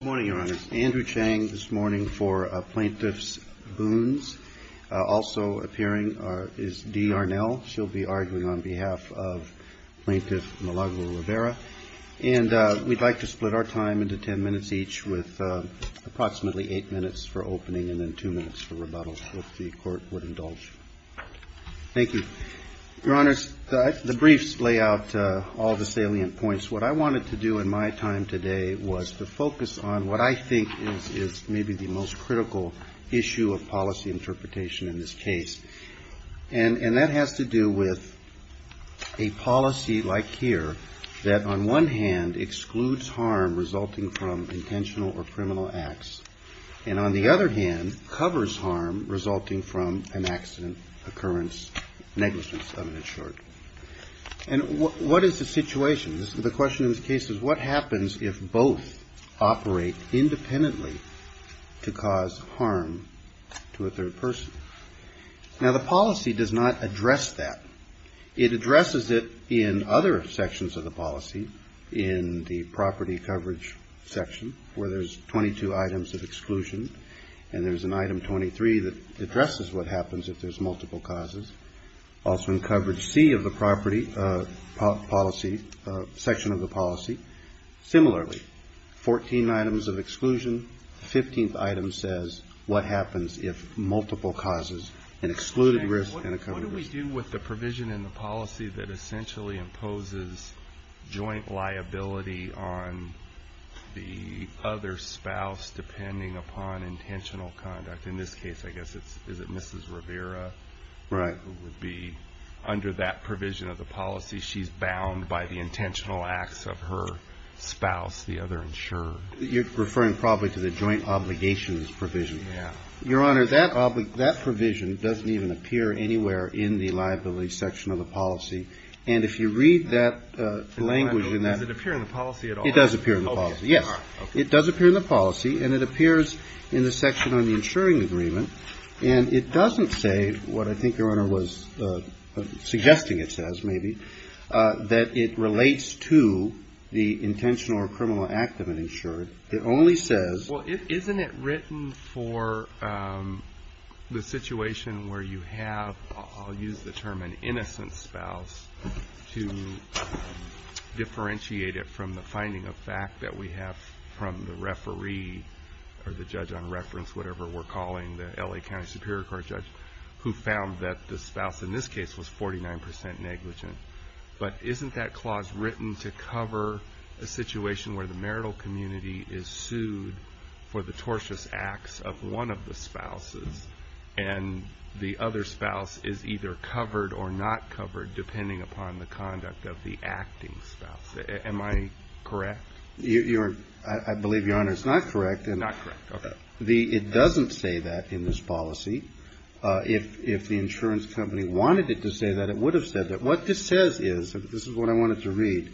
Good morning, Your Honors. Andrew Chang this morning for Plaintiff's Boons. Also appearing is Dee Arnell. She'll be arguing on behalf of Plaintiff Malago Rivera. And we'd like to split our time into ten minutes each with approximately eight minutes for opening and then two minutes for rebuttal, if the Court would indulge. Thank you. Your Honors, the briefs lay out all the salient points. What I wanted to do in my time today was to focus on what I think is maybe the most critical issue of policy interpretation in this case. And that has to do with a policy like here that on one hand excludes harm resulting from intentional or criminal acts, and on the other hand covers harm resulting from an accident, occurrence, negligence of an insured. And what is the situation? The question in this case is what happens if both operate independently to cause harm to a third person? Now the policy does not address that. It addresses it in other sections of the policy, in the property coverage section where there's 22 items of exclusion and there's an item 23 that addresses what happens if there's multiple causes. Also in coverage C of the property policy, section of the policy. Similarly, 14 items of exclusion, 15th item says what happens if multiple causes, an excluded risk and a covered risk. What do we do with the provision in the policy that essentially imposes joint liability on the other spouse depending upon intentional conduct? In this case, I guess it's, is it Mrs. Rivera? Right. Who would be under that provision of the policy, she's bound by the intentional acts of her spouse, the other insured. You're referring probably to the joint obligations provision. Yeah. Your Honor, that provision doesn't even appear anywhere in the liability section of the policy. And if you read that language in that. Does it appear in the policy at all? It does appear in the policy. Okay. Yes. Okay. It does appear in the policy and it appears in the section on the insuring agreement. And it doesn't say what I think Your Honor was suggesting it says, maybe, that it relates to the intentional or criminal act of an insured. It only says. Well, isn't it written for the situation where you have, I'll use the term an innocent spouse, to differentiate it from the finding of fact that we have from the referee or the judge on reference, whatever we're calling the eligible spouse. The LA County Superior Court judge who found that the spouse in this case was 49% negligent. But isn't that clause written to cover a situation where the marital community is sued for the tortious acts of one of the spouses and the other spouse is either covered or not covered depending upon the conduct of the acting spouse. Am I correct? I believe Your Honor, it's not correct. Not correct. Okay. It doesn't say that in this policy. If the insurance company wanted it to say that, it would have said that. What this says is, this is what I wanted to read.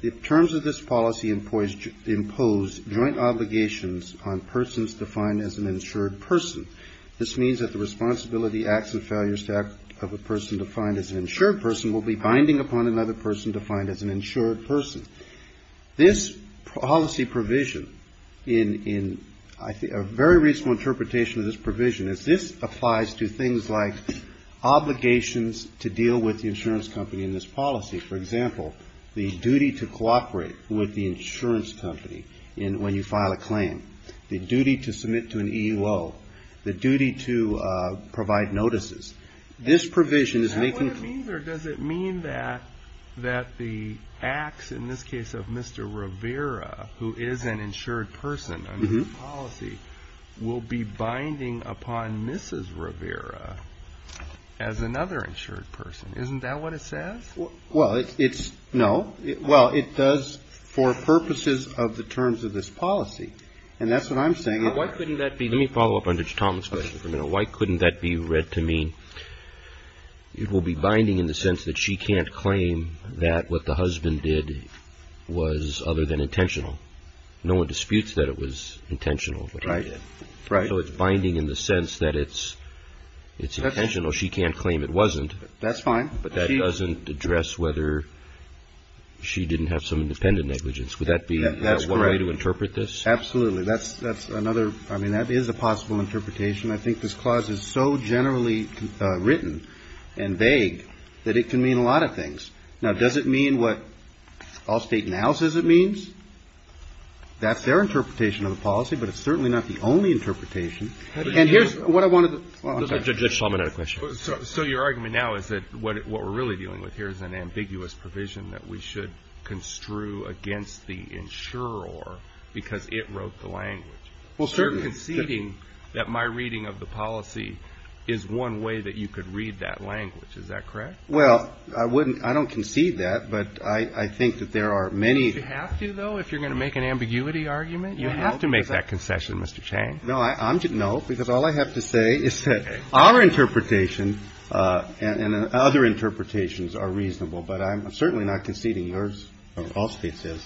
The terms of this policy impose joint obligations on persons defined as an insured person. This means that the responsibility, acts and failures of a person defined as an insured person will be binding upon another person defined as an insured person. This policy provision, a very reasonable interpretation of this provision is this applies to things like obligations to deal with the insurance company in this policy. For example, the duty to cooperate with the insurance company when you file a claim. The duty to submit to an EUO. The duty to provide notices. Is that what it means or does it mean that the acts, in this case of Mr. Rivera, who is an insured person under this policy, will be binding upon Mrs. Rivera as another insured person? Isn't that what it says? Well, it's no. Well, it does for purposes of the terms of this policy. And that's what I'm saying. Why couldn't that be? Let me follow up on Tom's question. You know, why couldn't that be read to mean it will be binding in the sense that she can't claim that what the husband did was other than intentional? No one disputes that it was intentional. Right. Right. So it's binding in the sense that it's it's intentional. She can't claim it wasn't. That's fine. But that doesn't address whether she didn't have some independent negligence. Would that be a way to interpret this? Absolutely. That's that's another. I mean, that is a possible interpretation. I think this clause is so generally written and vague that it can mean a lot of things. Now, does it mean what Allstate now says it means? That's their interpretation of the policy, but it's certainly not the only interpretation. And here's what I wanted to. So your argument now is that what we're really dealing with here is an ambiguous provision that we should construe against the insurer or because it wrote the language. Well, certain conceding that my reading of the policy is one way that you could read that language. Is that correct? Well, I wouldn't I don't concede that. But I think that there are many. You have to, though, if you're going to make an ambiguity argument, you have to make that concession, Mr. Chang. No, I don't know, because all I have to say is that our interpretation and other interpretations are reasonable. But I'm certainly not conceding yours. Allstate says,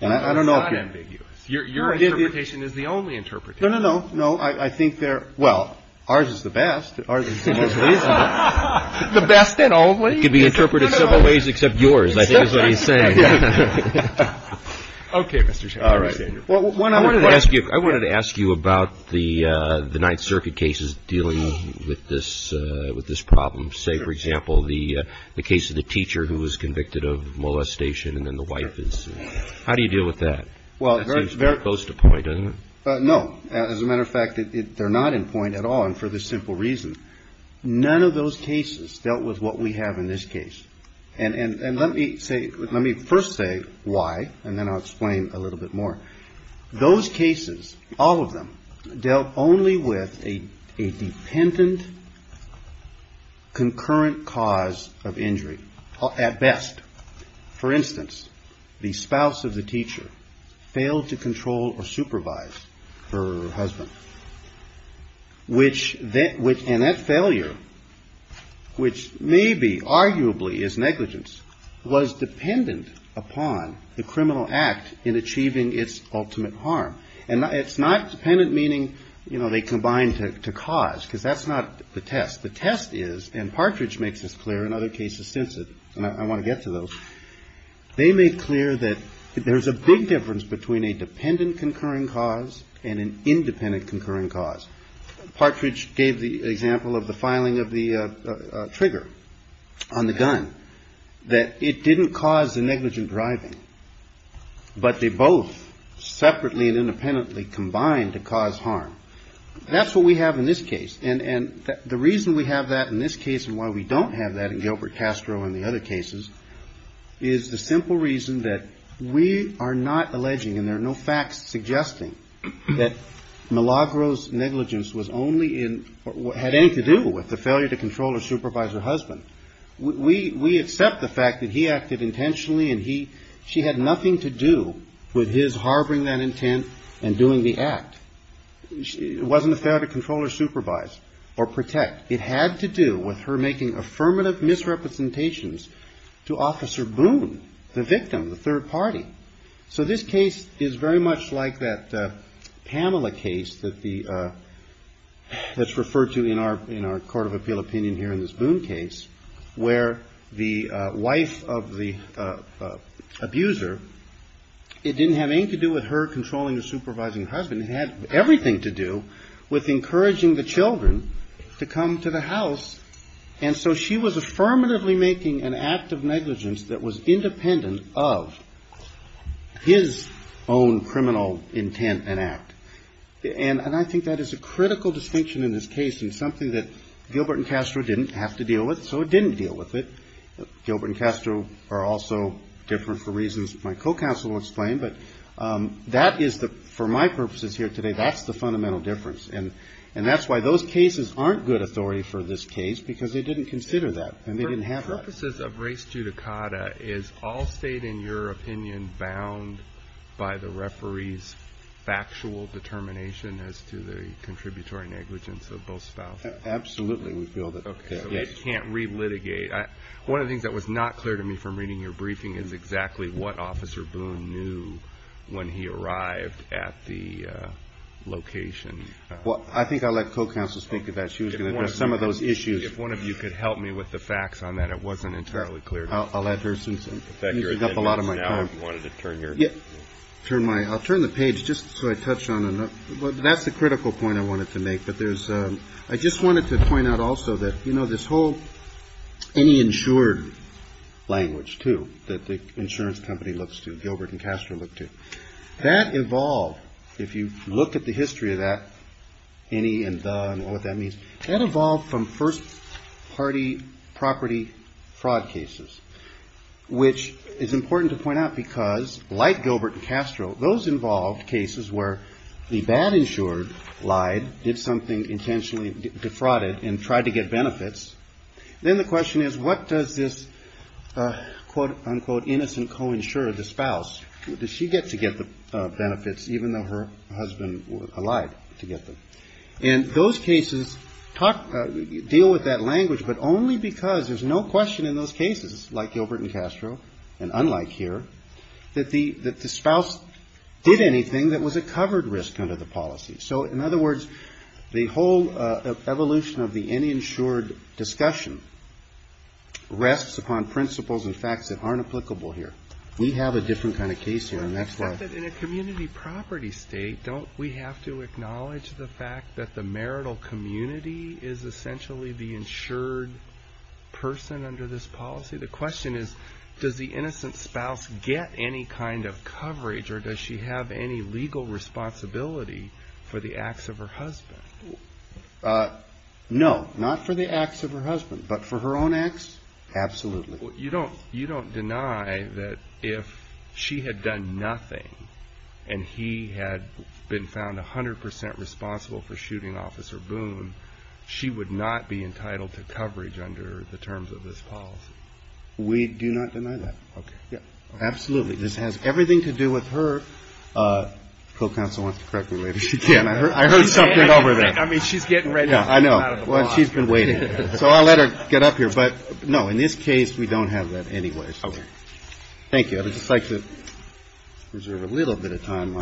and I don't know. It's not ambiguous. Your interpretation is the only interpretation. No, no, no. I think they're well, ours is the best. Ours is the most reasonable. The best and only? It can be interpreted several ways except yours, I think is what he's saying. Okay, Mr. Chang. All right. I wanted to ask you about the Ninth Circuit cases dealing with this problem. Say, for example, the case of the teacher who was convicted of molestation and then the wife is. How do you deal with that? Well, it's very close to point, isn't it? No. As a matter of fact, they're not in point at all. And for the simple reason, none of those cases dealt with what we have in this case. And let me say let me first say why, and then I'll explain a little bit more. Those cases, all of them, dealt only with a dependent, concurrent cause of injury at best. For instance, the spouse of the teacher failed to control or supervise her husband. And that failure, which may be arguably is negligence, was dependent upon the criminal act in achieving its objective. And it's not dependent, meaning, you know, they combined to cause, because that's not the test. The test is, and Partridge makes this clear in other cases since it, and I want to get to those. They made clear that there's a big difference between a dependent, concurring cause and an independent, concurring cause. Partridge gave the example of the filing of the trigger on the gun, that it didn't cause the negligent driving. But they both separately and independently combined to cause harm. That's what we have in this case. And the reason we have that in this case and why we don't have that in Gilbert Castro and the other cases is the simple reason that we are not alleging, and there are no facts suggesting that Milagro's negligence was only in, had anything to do with the failure to control or supervise her husband. We accept the fact that he acted intentionally and he, she had nothing to do with his harboring that intent and doing the act. It wasn't a failure to control or supervise or protect. It had to do with her making affirmative misrepresentations to Officer Boone, the victim, the third party. So this case is very much like that Pamela case that the, that's referred to in our Court of Appeal opinion here in this Boone case. Where the wife of the abuser, it didn't have anything to do with her controlling or supervising her husband. It had everything to do with encouraging the children to come to the house. And so she was affirmatively making an act of negligence that was independent of his own criminal intent and act. And I think that is a critical distinction in this case and something that Gilbert and Castro didn't have to deal with. So it didn't deal with it. Gilbert and Castro are also different for reasons my co-counsel will explain, but that is the, for my purposes here today, that's the fundamental difference. And that's why those cases aren't good authority for this case because they didn't consider that and they didn't have that. For purposes of race judicata, is all state in your opinion bound by the referee's factual determination as to the contributory negligence of both spouses? Absolutely, we feel that. One of the things that was not clear to me from reading your briefing is exactly what Officer Boone knew when he arrived at the location. Well, I think I'll let co-counsel speak to that. She was going to address some of those issues. If one of you could help me with the facts on that, it wasn't entirely clear to me. I'll turn the page just so I touch on it. That's the critical point I wanted to make. I just wanted to point out also that this whole any insured language, too, that the insurance company looks to, Gilbert and Castro look to, that evolved. If you look at the history of that, any and the, and what that means, that evolved from first party property fraud cases. Which is important to point out because, like Gilbert and Castro, those involved cases where the bad insured lied, did something intentionally defrauded and tried to get benefits. Then the question is, what does this quote unquote innocent co-insurer, the spouse, what does she get to get the benefits even though her husband lied to get them? And those cases deal with that language, but only because there's no question in those cases, like Gilbert and Castro, that there's no question and unlike here, that the spouse did anything that was a covered risk under the policy. So in other words, the whole evolution of the any insured discussion rests upon principles and facts that aren't applicable here. We have a different kind of case here, and that's why. In a community property state, don't we have to acknowledge the fact that the marital community is essentially the insured person under this policy? The question is, does the innocent spouse get any kind of coverage or does she have any legal responsibility for the acts of her husband? No, not for the acts of her husband, but for her own acts, absolutely. You don't deny that if she had done nothing and he had been found 100% responsible for shooting Officer Boone, she would not be entitled to coverage under the terms of this policy? We do not deny that. Absolutely. This has everything to do with her, co-counsel wants to correct me if she can, I heard something over there. I know. She's been waiting. So I'll let her get up here. But no, in this case, we don't have that anyway. Thank you. I would just like to reserve a little bit of time.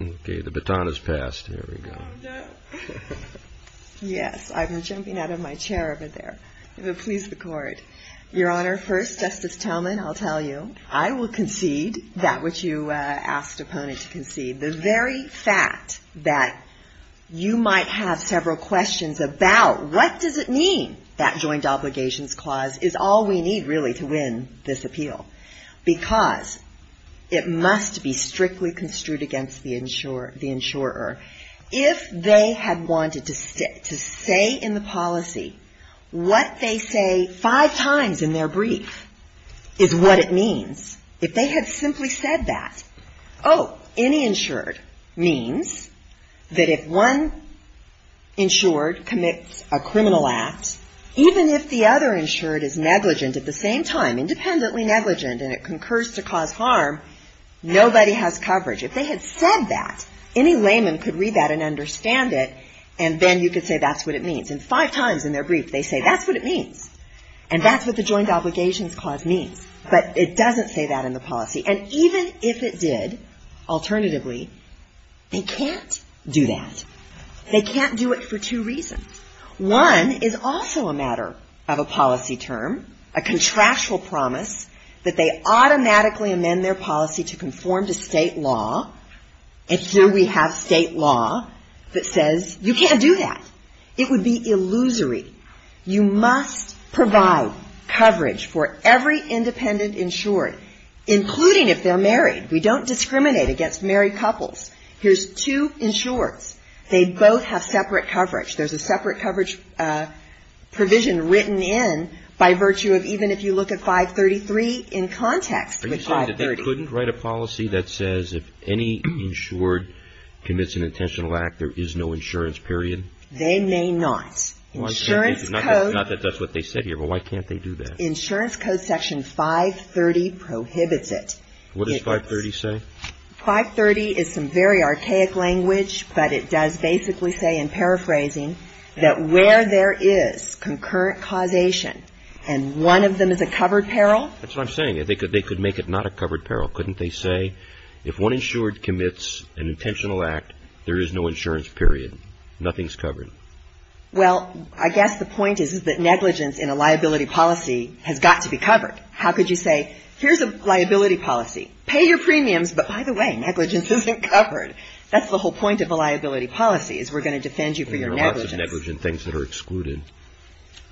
Okay. The baton has passed. Yes, I'm jumping out of my chair over there. If it pleases the Court. Your Honor, first, Justice Tillman, I'll tell you, I will concede that which you asked opponent to concede. The very fact that you might have several questions about what does it mean that joint obligations clause is all we need, really, to win this appeal. Because it must be strictly construed against the insurer. If they had wanted to say in the policy what they say five times in their brief is what it means. If they had simply said that, oh, any insured means that if one insured commits a criminal act, even if the other insured is negligent at the same time, independently negligent, and it concurs to cause harm, nobody has coverage. If they had said that, any layman could read that and understand it, and then you could say that's what it means. And five times in their brief, they say that's what it means. And that's what the joint obligations clause means. But it doesn't say that in the policy. And even if it did, alternatively, they can't do that. They can't do it for two reasons. One is also a matter of a policy term, a contractual promise that they automatically amend their policy to conform to State law. And so we have State law that says you can't do that. It would be illusory. You must provide coverage for every independent insured, including if they're married. We don't discriminate against married couples. Here's two insureds. They both have separate coverage. There's a separate coverage provision written in by virtue of even if you look at 533 in context. Are you saying that they couldn't write a policy that says if any insured commits an intentional act, there is no insurance period? They may not. Insurance code. Not that that's what they said here, but why can't they do that? Insurance code section 530 prohibits it. What does 530 say? 530 is some very archaic language, but it does basically say in paraphrasing that where there is concurrent causation and one of them is a covered peril? That's what I'm saying. They could make it not a covered peril. Couldn't they say if one insured commits an intentional act, there is no insurance period? Nothing's covered? Well, I guess the point is that negligence in a liability policy has got to be covered. How could you say here's a liability policy, pay your premiums, but by the way, negligence isn't covered. That's the whole point of a liability policy is we're going to defend you for your negligence.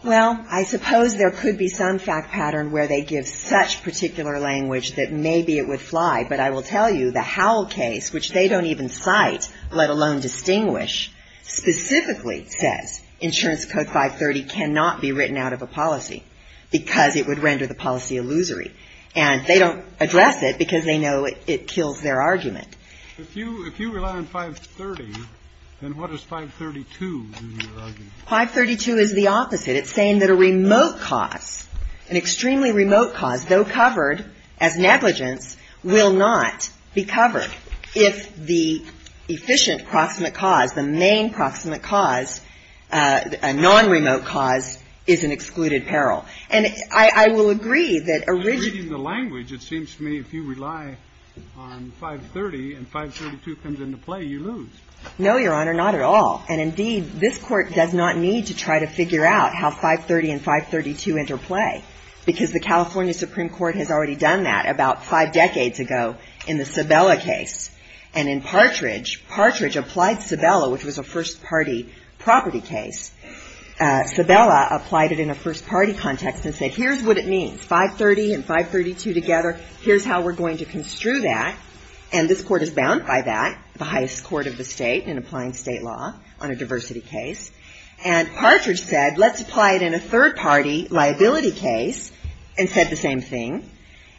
Well, I suppose there could be some fact pattern where they give such particular language that maybe it would fly, but I will tell you the Howell case, which they don't even cite, let alone distinguish, specifically says insurance code 530 cannot be written out of a policy because it would render the policy illusory. And they don't address it because they know it kills their argument. If you rely on 530, then what does 532 do in your argument? 532 is the opposite. It's saying that a remote cause, an extremely remote cause, though covered as negligence, will not be covered if the efficient proximate cause, the main proximate cause, a non-remote cause is an excluded peril. And I will agree that originally the language, it seems to me, if you rely on 530 and 532 comes into play, you lose. No, Your Honor, not at all. And indeed, this Court does not need to try to figure out how 530 and 532 interplay because the California Supreme Court has already done that about five decades ago in the Sabella case. And in Partridge, Partridge applied Sabella, which was a first-party property case. Sabella applied it in a first-party context and said, here's what it means, 530 and 532 together, here's how we're going to construe that. And this Court is bound by that, the highest court of the state in applying state law on a diversity case. And Partridge said, let's apply it in a third-party liability case and said the same thing,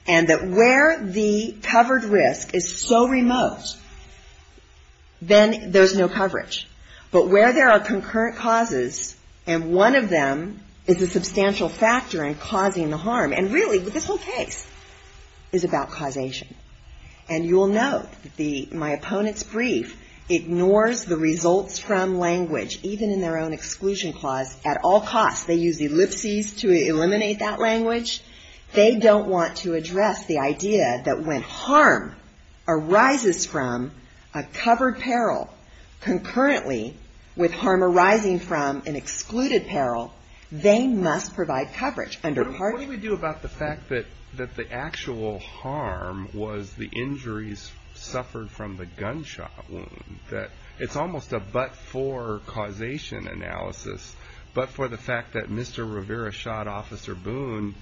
and that where the covered risk is so remote, then there's no coverage. But where there are concurrent causes and one of them is a substantial factor in causing the harm, and really this whole case is about causation. And you will note that my opponent's brief ignores the results from language, even in their own exclusion clause, at all costs. They use ellipses to eliminate that language. They don't want to address the idea that when harm arises from a covered peril, concurrently with harm arising from an excluded peril, they must provide coverage under Partridge. But what do we do about the fact that the actual harm was the injuries suffered from the gunshot wound, that it's almost a but-for causation analysis, but for the fact that Mr. Rivera shot Officer Boone,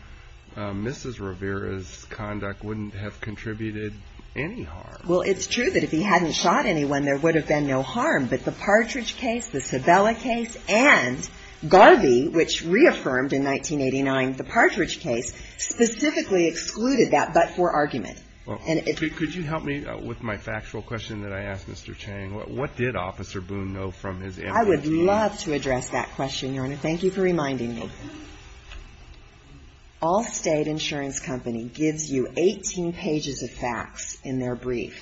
Mrs. Rivera's conduct wouldn't have contributed any harm? Well, it's true that if he hadn't shot anyone, there would have been no harm. But the Partridge case, the Sebella case, and Garvey, which reaffirmed in 1989 the Partridge case, specifically excluded that but-for argument. Could you help me with my factual question that I asked Mr. Chang? What did Officer Boone know from his interview? I would love to address that question, Your Honor. Thank you for reminding me. Allstate Insurance Company gives you 18 pages of facts in their brief,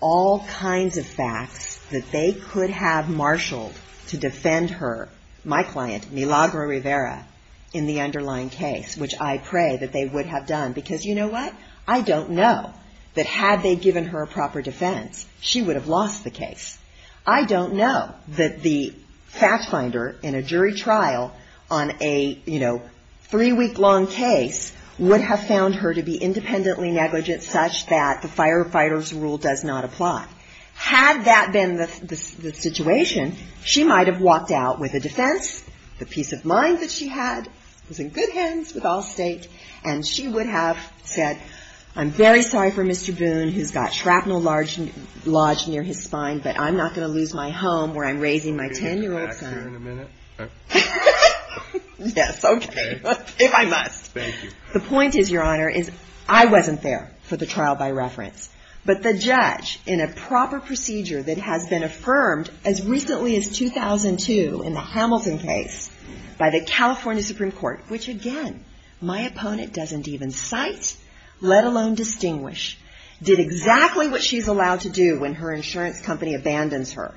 all kinds of facts that they could have marshaled to defend her, my client, Milagro Rivera, in the underlying case, which I pray that they would have done. Because you know what? I don't know that had they given her proper defense, she would have lost the case. I don't know that the fact finder in a jury trial on a, you know, three-week-long case would have found her to be independently negligent such that the firefighter's rule does not apply. Had that been the situation, she might have walked out with a defense. The peace of mind that she had was in good hands with Allstate. And she would have said, I'm very sorry for Mr. Boone, who's got shrapnel lodged near his spine, I'm not going to lose my home where I'm raising my 10-year-old son. Can you come back here in a minute? Yes, okay. If I must. Thank you. The point is, Your Honor, is I wasn't there for the trial by reference. But the judge, in a proper procedure that has been affirmed as recently as 2002 in the Hamilton case by the California Supreme Court, which again, my opponent doesn't even cite, let alone distinguish, did exactly what she's allowed to do when her insurance company abandons her.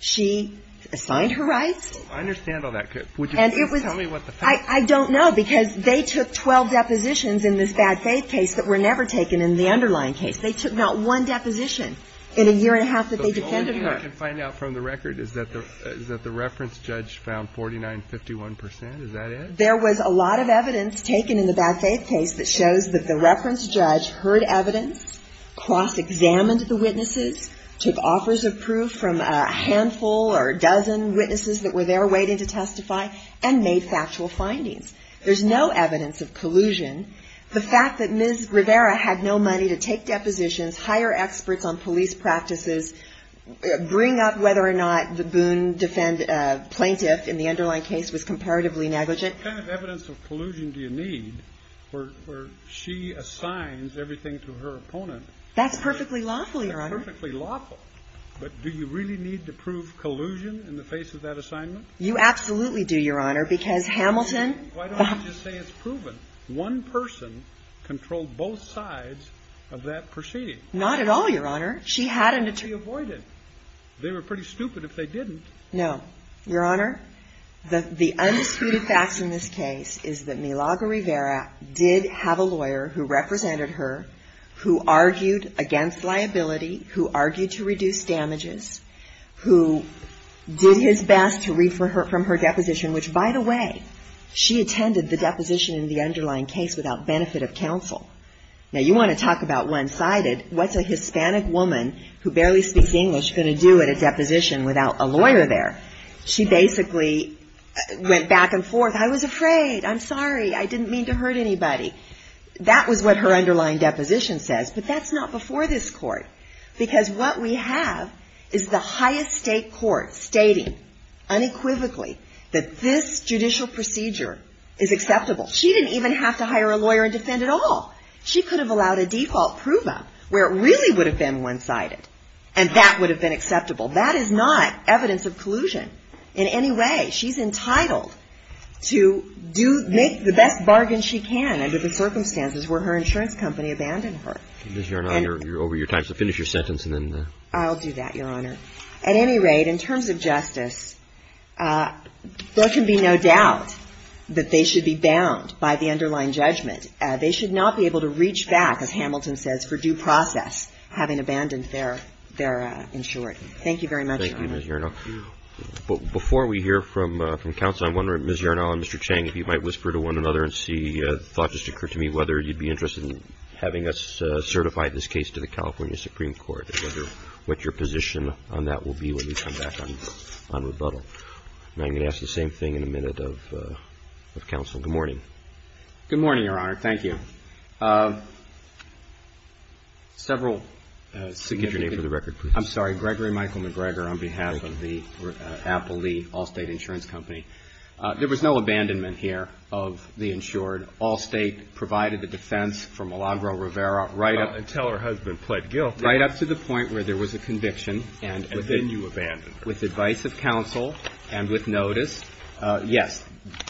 She assigned her rights. I understand all that. Would you please tell me what the facts are? I don't know, because they took 12 depositions in this bad faith case that were never taken in the underlying case. They took not one deposition in a year and a half that they defended her. The only thing I can find out from the record is that the reference judge found 49, 51 percent. Is that it? There was a lot of evidence taken in the bad faith case that shows that the reference judge heard evidence, cross-examined the witnesses, took offers of proof from a handful or a dozen witnesses that were there waiting to testify, and made factual findings. There's no evidence of collusion. The fact that Ms. Rivera had no money to take depositions, hire experts on police practices, bring up whether or not the Boone defendant plaintiff in the underlying case was comparatively negligent. What kind of evidence of collusion do you need where she assigns everything to her opponent? That's perfectly lawful, Your Honor. That's perfectly lawful. But do you really need to prove collusion in the face of that assignment? You absolutely do, Your Honor, because Hamilton. Why don't you just say it's proven? One person controlled both sides of that proceeding. Not at all, Your Honor. She had an attorney. She avoided. They were pretty stupid if they didn't. No. Your Honor, the undisputed facts in this case is that Milagro Rivera did have a lawyer who represented her, who argued against liability, who argued to reduce damages, who did his best to read from her deposition, which, by the way, she attended the deposition in the underlying case without benefit of counsel. Now, you want to talk about one-sided. What's a Hispanic woman who barely speaks English going to do at a deposition without a lawyer there? She basically went back and forth. I was afraid. I'm sorry. I didn't mean to hurt anybody. That was what her underlying deposition says. But that's not before this court, because what we have is the highest stake court stating unequivocally that this judicial procedure is acceptable. She didn't even have to hire a lawyer and defend at all. She could have allowed a default prove-up where it really would have been one-sided, and that would have been acceptable. That is not evidence of collusion in any way. She's entitled to do the best bargain she can under the circumstances where her insurance company abandoned her. You're over your time, so finish your sentence and then the ---- I'll do that, Your Honor. At any rate, in terms of justice, there can be no doubt that they should be bound by the underlying judgment. They should not be able to reach back, as Hamilton says, for due process, having abandoned their insurance. Thank you very much, Your Honor. Roberts. Thank you, Ms. Yernal. Before we hear from counsel, I'm wondering, Ms. Yernal and Mr. Chang, if you might whisper to one another and see, thought just occurred to me, whether you'd be interested in having us certify this case to the California Supreme Court, whether what your position on that will be when you come back on rebuttal. Now, I'm going to ask the same thing in a minute of counsel. Good morning. Good morning, Your Honor. Thank you. Several significant ---- Get your name for the record, please. I'm sorry. Gregory Michael McGregor on behalf of the Apple Lee Allstate Insurance Company. There was no abandonment here of the insured. Allstate provided the defense for Milagro-Rivera right up ---- Until her husband pled guilty. Right up to the point where there was a conviction and ---- And then you abandoned her. With advice of counsel and with notice, yes,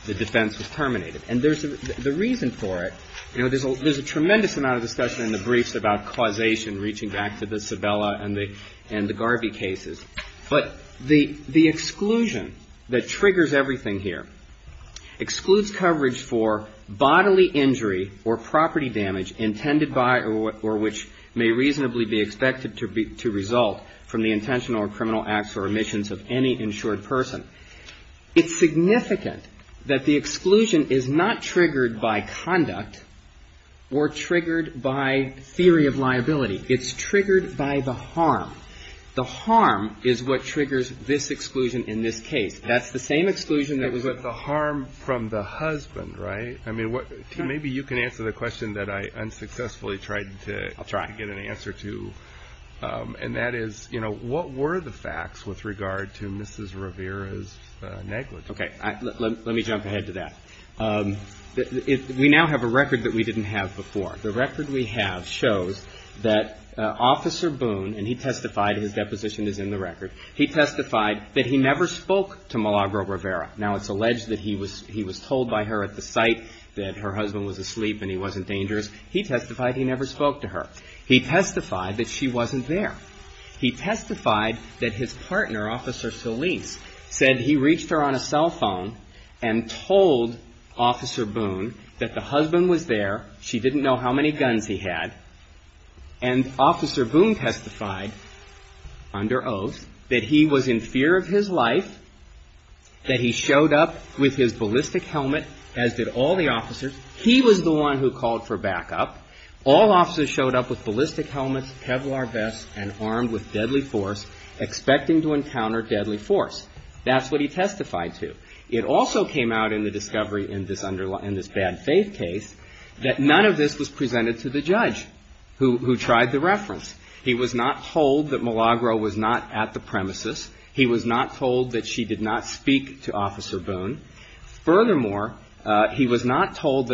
the defense was terminated. And there's a reason for it. You know, there's a tremendous amount of discussion in the briefs about causation reaching back to the Sabella and the Garvey cases. But the exclusion that triggers everything here excludes coverage for bodily injury or property damage intended by or which may reasonably be expected to result from the intentional or criminal acts or omissions of any insured person. It's significant that the exclusion is not triggered by conduct or triggered by theory of liability. It's triggered by the harm. The harm is what triggers this exclusion in this case. That's the same exclusion that was ---- But the harm from the husband, right? I mean, maybe you can answer the question that I unsuccessfully tried to get an answer to. I'll try. And that is, you know, what were the facts with regard to Mrs. Rivera's negligence? Okay. Let me jump ahead to that. We now have a record that we didn't have before. The record we have shows that Officer Boone, and he testified, his deposition is in the record, he testified that he never spoke to Malagro Rivera. Now, it's alleged that he was told by her at the site that her husband was asleep and he wasn't dangerous. He testified he never spoke to her. He testified that she wasn't there. He testified that his partner, Officer Solis, said he reached her on a cell phone and told Officer Boone that the husband was there. She didn't know how many guns he had. And Officer Boone testified under oath that he was in fear of his life, that he showed up with his ballistic helmet, as did all the officers. He was the one who called for backup. All officers showed up with ballistic helmets, Kevlar vests, and armed with deadly force, expecting to encounter deadly force. That's what he testified to. It also came out in the discovery in this bad faith case that none of this was presented to the judge who tried the reference. He was not told that Malagro was not at the premises. He was not told that she did not speak to Officer Boone. He wasn't told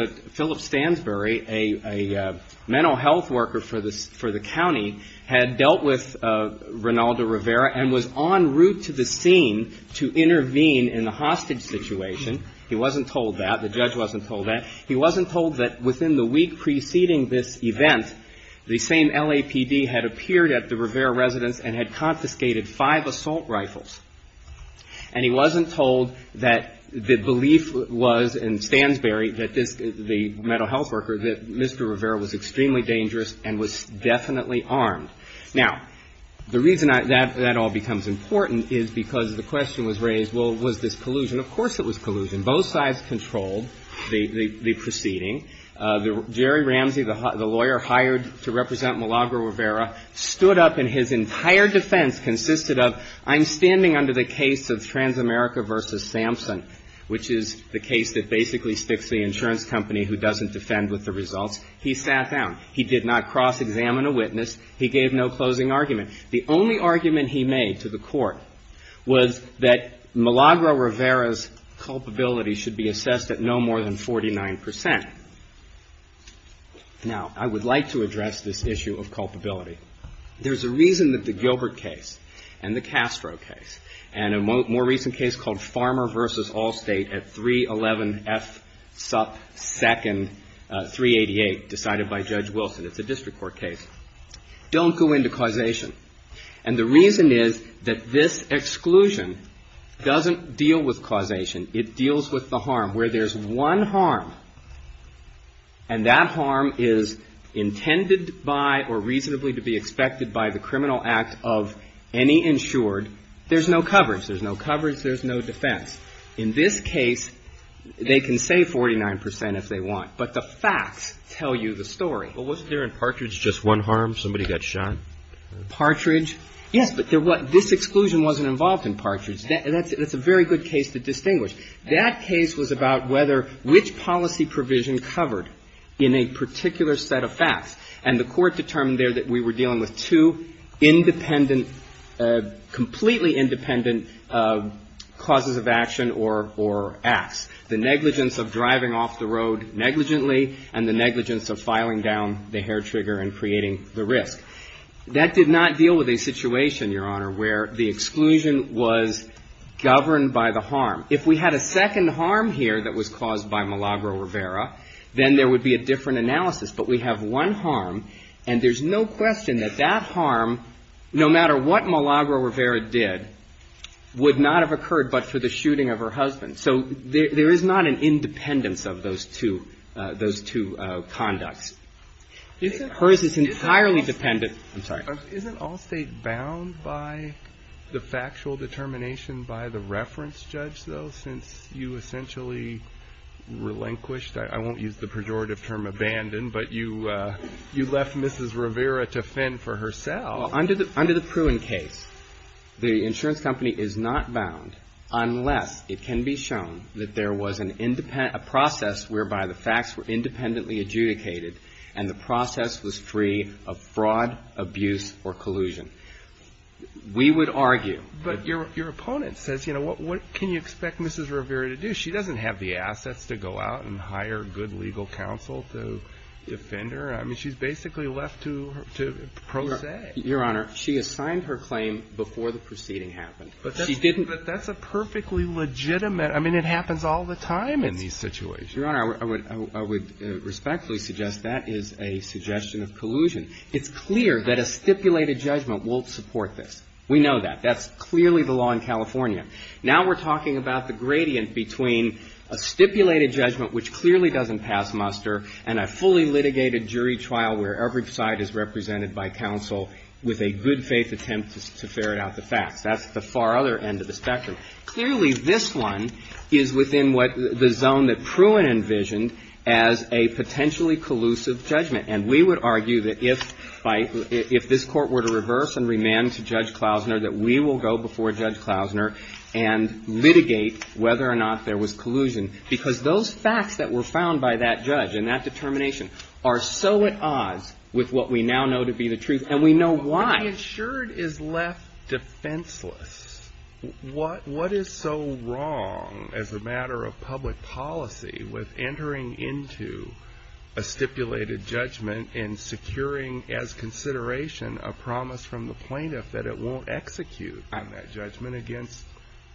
that. The judge wasn't told that. He wasn't told that within the week preceding this event, the same LAPD had appeared at the Rivera residence and had confiscated five assault rifles. And he wasn't told that the belief was in Stansberry, the mental health worker, that Mr. Rivera was extremely dangerous and was definitely armed. Now, the reason that all becomes important is because the question was raised, well, was this collusion? Of course it was collusion. Both sides controlled the proceeding. Jerry Ramsey, the lawyer hired to represent Malagro Rivera, stood up and his entire defense consisted of, I'm standing under the case of Transamerica v. Sampson, which is the case that basically sticks the insurance company who doesn't defend with the results. He sat down. He did not cross-examine a witness. He gave no closing argument. The only argument he made to the Court was that Malagro Rivera's culpability should be assessed at no more than 49 percent. Now, I would like to address this issue of culpability. There's a reason that the Gilbert case and the Castro case and a more recent case called Farmer v. Allstate at 311 F. It's up second, 388, decided by Judge Wilson. It's a district court case. Don't go into causation. And the reason is that this exclusion doesn't deal with causation. It deals with the harm. Where there's one harm and that harm is intended by or reasonably to be expected by the criminal act of any insured, there's no coverage. There's no coverage. There's no defense. In this case, they can say 49 percent if they want. But the facts tell you the story. But wasn't there in Partridge just one harm? Somebody got shot? Partridge? Yes. But this exclusion wasn't involved in Partridge. That's a very good case to distinguish. That case was about whether which policy provision covered in a particular set of facts. And the court determined there that we were dealing with two independent, completely independent causes of action or acts. The negligence of driving off the road negligently and the negligence of filing down the hair trigger and creating the risk. That did not deal with a situation, Your Honor, where the exclusion was governed by the harm. If we had a second harm here that was caused by Milagro Rivera, then there would be a different analysis. But we have one harm, and there's no question that that harm, no matter what Milagro Rivera did, would not have occurred but for the shooting of her husband. So there is not an independence of those two conducts. Hers is entirely dependent. I'm sorry. Isn't all State bound by the factual determination by the reference judge, though, since you essentially relinquished? I won't use the pejorative term abandoned, but you left Mrs. Rivera to fend for herself. Well, under the Pruin case, the insurance company is not bound unless it can be shown that there was an independent process whereby the facts were independently adjudicated and the process was free of fraud, abuse or collusion. We would argue. But your opponent says, you know, what can you expect Mrs. Rivera to do? She doesn't have the assets to go out and hire good legal counsel to defend her. I mean, she's basically left to pro se. Your Honor, she assigned her claim before the proceeding happened. But that's a perfectly legitimate – I mean, it happens all the time in these situations. Your Honor, I would respectfully suggest that is a suggestion of collusion. It's clear that a stipulated judgment won't support this. We know that. That's clearly the law in California. Now we're talking about the gradient between a stipulated judgment which clearly doesn't pass muster and a fully litigated jury trial where every side is represented by counsel with a good-faith attempt to ferret out the facts. That's the far other end of the spectrum. Clearly, this one is within what the zone that Pruin envisioned as a potentially collusive judgment. And we would argue that if by – if this Court were to reverse and remand to Judge Klausner and litigate whether or not there was collusion, because those facts that were found by that judge and that determination are so at odds with what we now know to be the truth, and we know why. But the insured is left defenseless. What is so wrong as a matter of public policy with entering into a stipulated judgment and securing as consideration a promise from the plaintiff that it won't execute that judgment against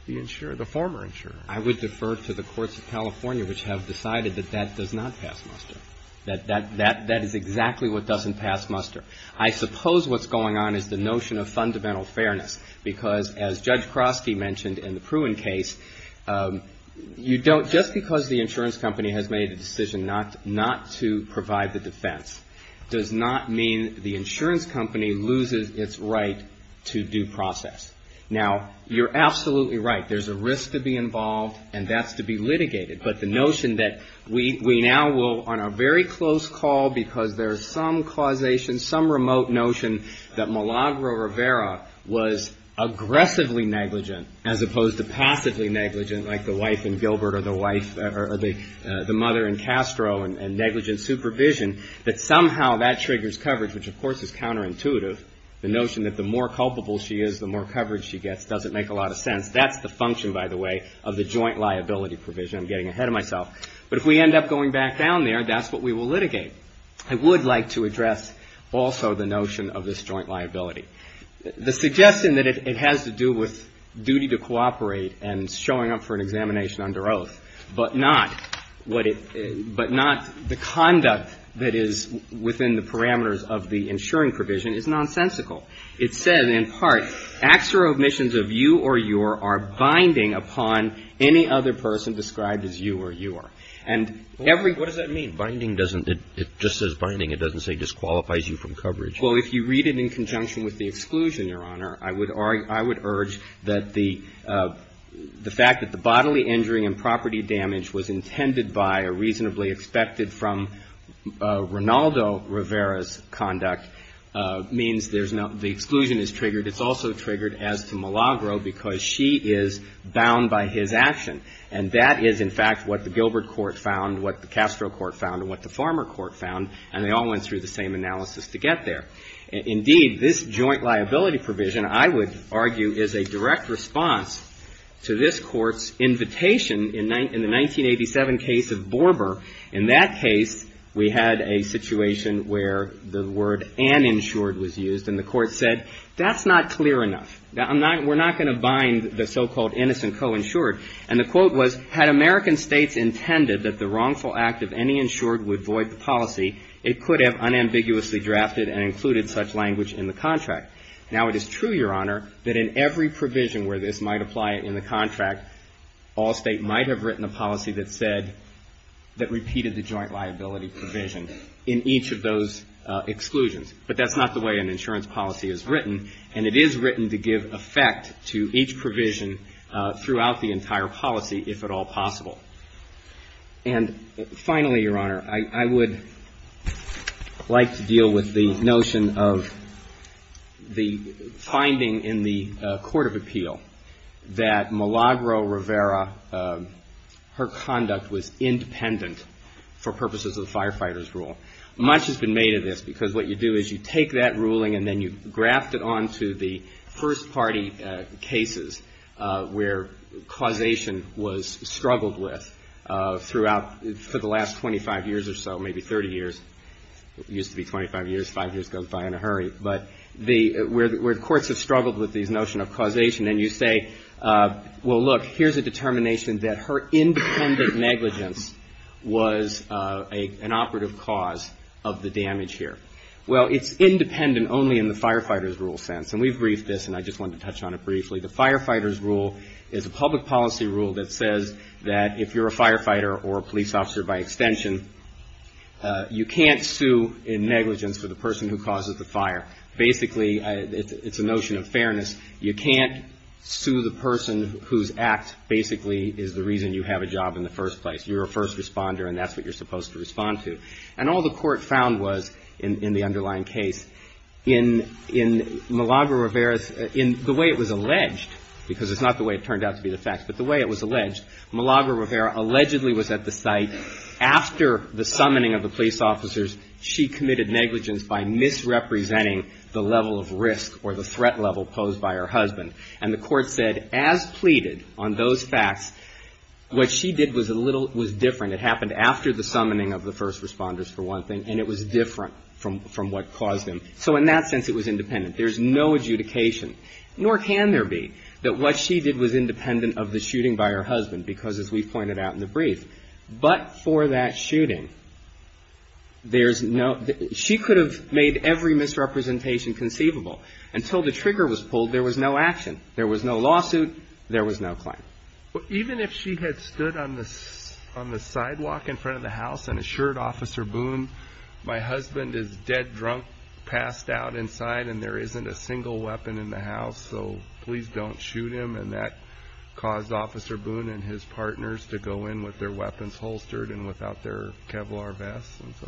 the insurer, the former insurer? I would defer to the courts of California which have decided that that does not pass muster. That is exactly what doesn't pass muster. I suppose what's going on is the notion of fundamental fairness, because as Judge Kroski mentioned in the Pruin case, you don't – just because the insurance company has made a decision not to provide the defense does not mean the insurance company loses its right to due process. Now, you're absolutely right. There's a risk to be involved, and that's to be litigated. But the notion that we now will, on a very close call because there is some causation, some remote notion, that Malagro Rivera was aggressively negligent as opposed to passively negligent, like the wife in Gilbert or the mother in Castro and negligent supervision, that somehow that triggers coverage, which of course is counterintuitive. The notion that the more culpable she is, the more coverage she gets doesn't make a lot of sense. That's the function, by the way, of the joint liability provision. I'm getting ahead of myself. But if we end up going back down there, that's what we will litigate. I would like to address also the notion of this joint liability. The suggestion that it has to do with duty to cooperate and showing up for an examination under oath, but not what it – but not the conduct that is within the parameters of the insuring provision is nonsensical. It says in part, acts or omissions of you or your are binding upon any other person described as you or your. And every – What does that mean? Binding doesn't – it just says binding. It doesn't say disqualifies you from coverage. Well, if you read it in conjunction with the exclusion, Your Honor, I would urge that the fact that the bodily injury and property damage was intended by or reasonably expected from Rinaldo Rivera's conduct means there's no – the exclusion is triggered. It's also triggered as to Malagro because she is bound by his action. And that is, in fact, what the Gilbert Court found, what the Castro Court found, and what the Farmer Court found. And they all went through the same analysis to get there. Indeed, this joint liability provision, I would argue, is a direct response to this Court's invitation in the 1987 case of Borber. In that case, we had a situation where the word uninsured was used, and the Court said, that's not clear enough. We're not going to bind the so-called innocent co-insured. And the quote was, had American states intended that the wrongful act of any insured would void the policy, it could have unambiguously drafted and included such language in the contract. Now, it is true, Your Honor, that in every provision where this might apply in the contract, all state might have written a policy that said – that repeated the joint liability provision in each of those exclusions. But that's not the way an insurance policy is written. And it is written to give effect to each provision throughout the entire policy, if at all possible. And finally, Your Honor, I would like to deal with the notion of the finding in the Court of Appeal that Malagro-Rivera, her conduct was independent for purposes of the Firefighter's Rule. Much has been made of this, because what you do is you take that ruling and then you graft it onto the first-party cases where causation was struggled with throughout – for the last 25 years or so, maybe 30 years. It used to be 25 years, five years goes by in a hurry. But the – where courts have struggled with this notion of causation, and you say, well, look, here's a determination that her independent negligence was an operative cause of the damage here. Well, it's independent only in the Firefighter's Rule sense. And we've briefed this, and I just wanted to touch on it briefly. The Firefighter's Rule is a public policy rule that says that if you're a firefighter or a police officer by extension, you can't sue in negligence for the person who causes the fire. Basically, it's a notion of fairness. You can't sue the person whose act basically is the reason you have a job in the first place. You're a first responder, and that's what you're supposed to respond to. And all the court found was, in the underlying case, in – in Malagra-Rivera's – in the way it was alleged, because it's not the way it turned out to be the facts, but the way it was alleged, Malagra-Rivera allegedly was at the site after the summoning of the police officers. She committed negligence by misrepresenting the level of risk or the threat level posed by her husband. And the court said, as pleaded on those facts, what she did was a little – was different. It happened after the summoning of the first responders, for one thing, and it was different from – from what caused them. So in that sense, it was independent. There's no adjudication, nor can there be, that what she did was independent of the shooting by her husband, because, as we pointed out in the brief, but for that shooting, there's no – she could have made every misrepresentation conceivable. Until the trigger was pulled, there was no action. There was no lawsuit. There was no claim. Even if she had stood on the – on the sidewalk in front of the house and assured Officer Boone, my husband is dead drunk, passed out inside, and there isn't a single weapon in the house, so please don't shoot him. And that caused Officer Boone and his partners to go in with their weapons holstered and without their Kevlar vests and so on.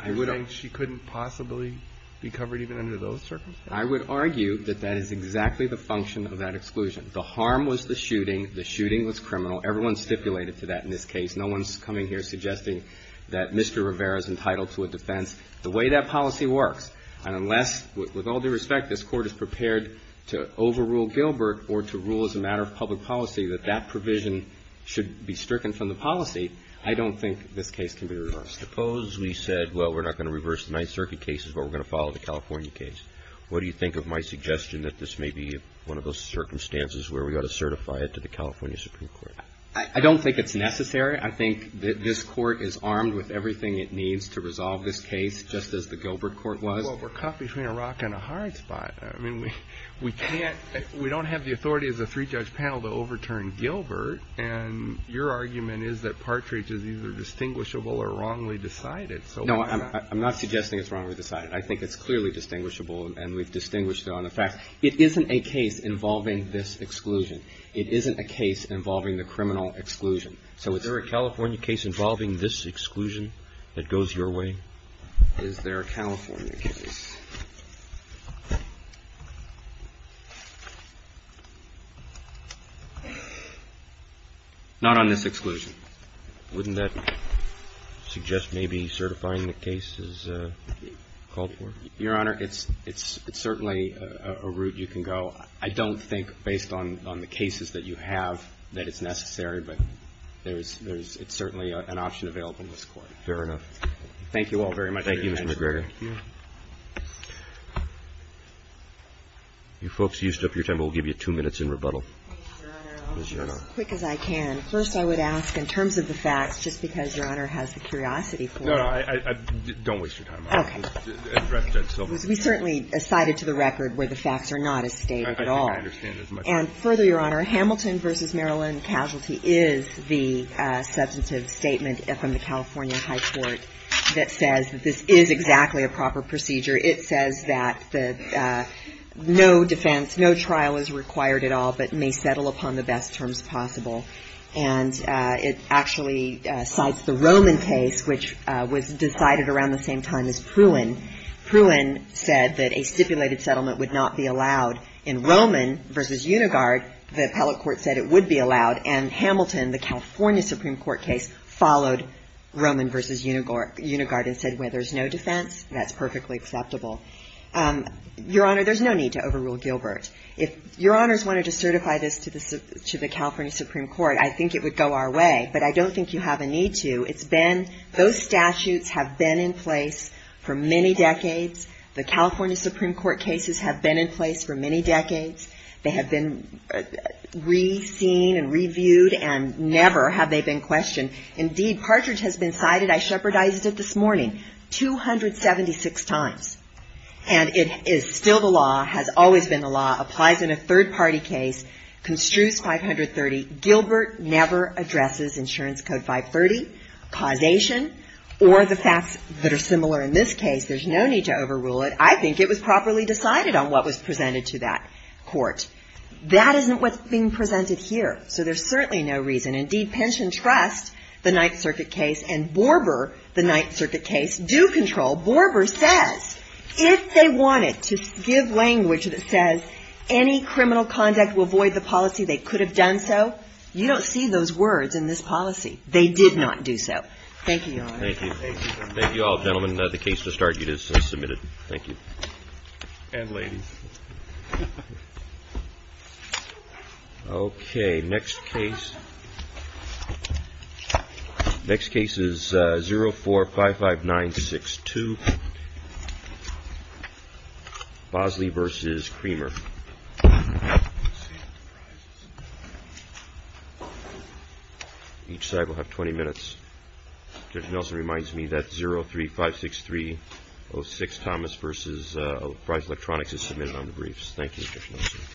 I think she couldn't possibly be covered even under those circumstances. I would argue that that is exactly the function of that exclusion. The harm was the shooting. The shooting was criminal. Everyone stipulated to that in this case. No one's coming here suggesting that Mr. Rivera's entitled to a defense. The way that policy works, and unless – with all due respect, this Court is prepared to overrule Gilbert or to rule as a matter of public policy that that provision should be stricken from the policy, I don't think this case can be reversed. Suppose we said, well, we're not going to reverse the Ninth Circuit case, but we're going to follow the California case. What do you think of my suggestion that this may be one of those circumstances where we ought to certify it to the California Supreme Court? I don't think it's necessary. I think this Court is armed with everything it needs to resolve this case just as the Gilbert Court was. Well, we're caught between a rock and a hard spot. I mean, we can't – we don't have the authority as a three-judge panel to overturn Gilbert, and your argument is that Partridge is either distinguishable or wrongly decided. No, I'm not suggesting it's wrongly decided. I think it's clearly distinguishable, and we've distinguished it on the facts. It isn't a case involving this exclusion. It isn't a case involving the criminal exclusion. So it's – Is there a California case involving this exclusion that goes your way? Is there a California case? Not on this exclusion. Wouldn't that suggest maybe certifying the case as called for? Your Honor, it's certainly a route you can go. I don't think, based on the cases that you have, that it's necessary, but there's – it's certainly an option available in this Court. Fair enough. Thank you all very much. Thank you, Mr. McGregor. You folks used up your time. We'll give you two minutes in rebuttal. Thank you, Your Honor. I'll be as quick as I can. First, I would ask, in terms of the facts, just because Your Honor has the curiosity for it. No, no. Don't waste your time, Your Honor. Okay. We certainly cited to the record where the facts are not as stated at all. I didn't understand as much. And further, Your Honor, Hamilton v. Maryland Casualty is the substantive statement from the California High Court that says that this is exactly a proper procedure. It says that the – no defense, no trial is required at all, but may settle upon the best terms possible. And it actually cites the Roman case, which was decided around the same time as Pruin. Pruin said that a stipulated settlement would not be allowed. In Roman v. Unigard, the appellate court said it would be allowed, and Hamilton, the California Supreme Court case, followed Roman v. Unigard and said, well, there's no defense. That's perfectly acceptable. Your Honor, there's no need to overrule Gilbert. If Your Honors wanted to certify this to the California Supreme Court, I think it would go our way. But I don't think you have a need to. It's been – those statutes have been in place for many decades. The California Supreme Court cases have been in place for many decades. They have been re-seen and reviewed and never have they been questioned. Indeed, Partridge has been cited – I shepherdized it this morning – 276 times. And it is still the law, has always been the law, applies in a third-party case, construes 530. Gilbert never addresses insurance code 530, causation, or the facts that are similar in this case. There's no need to overrule it. I think it was properly decided on what was presented to that court. That isn't what's being presented here, so there's certainly no reason. Indeed, Pinchin trusts the Ninth Circuit case, and Borber, the Ninth Circuit case, do control. Borber says if they wanted to give language that says any criminal conduct will void the policy, they could have done so. You don't see those words in this policy. They did not do so. Thank you, Your Honor. Thank you. Thank you all. Gentlemen, the case to start, it is submitted. Thank you. And ladies. Okay. Next case. Next case is 0455962, Bosley v. Creamer. Each side will have 20 minutes. Judge Nelson reminds me that 0356306, Thomas v. Price Electronics is submitted on the briefs. Thank you, Judge Nelson.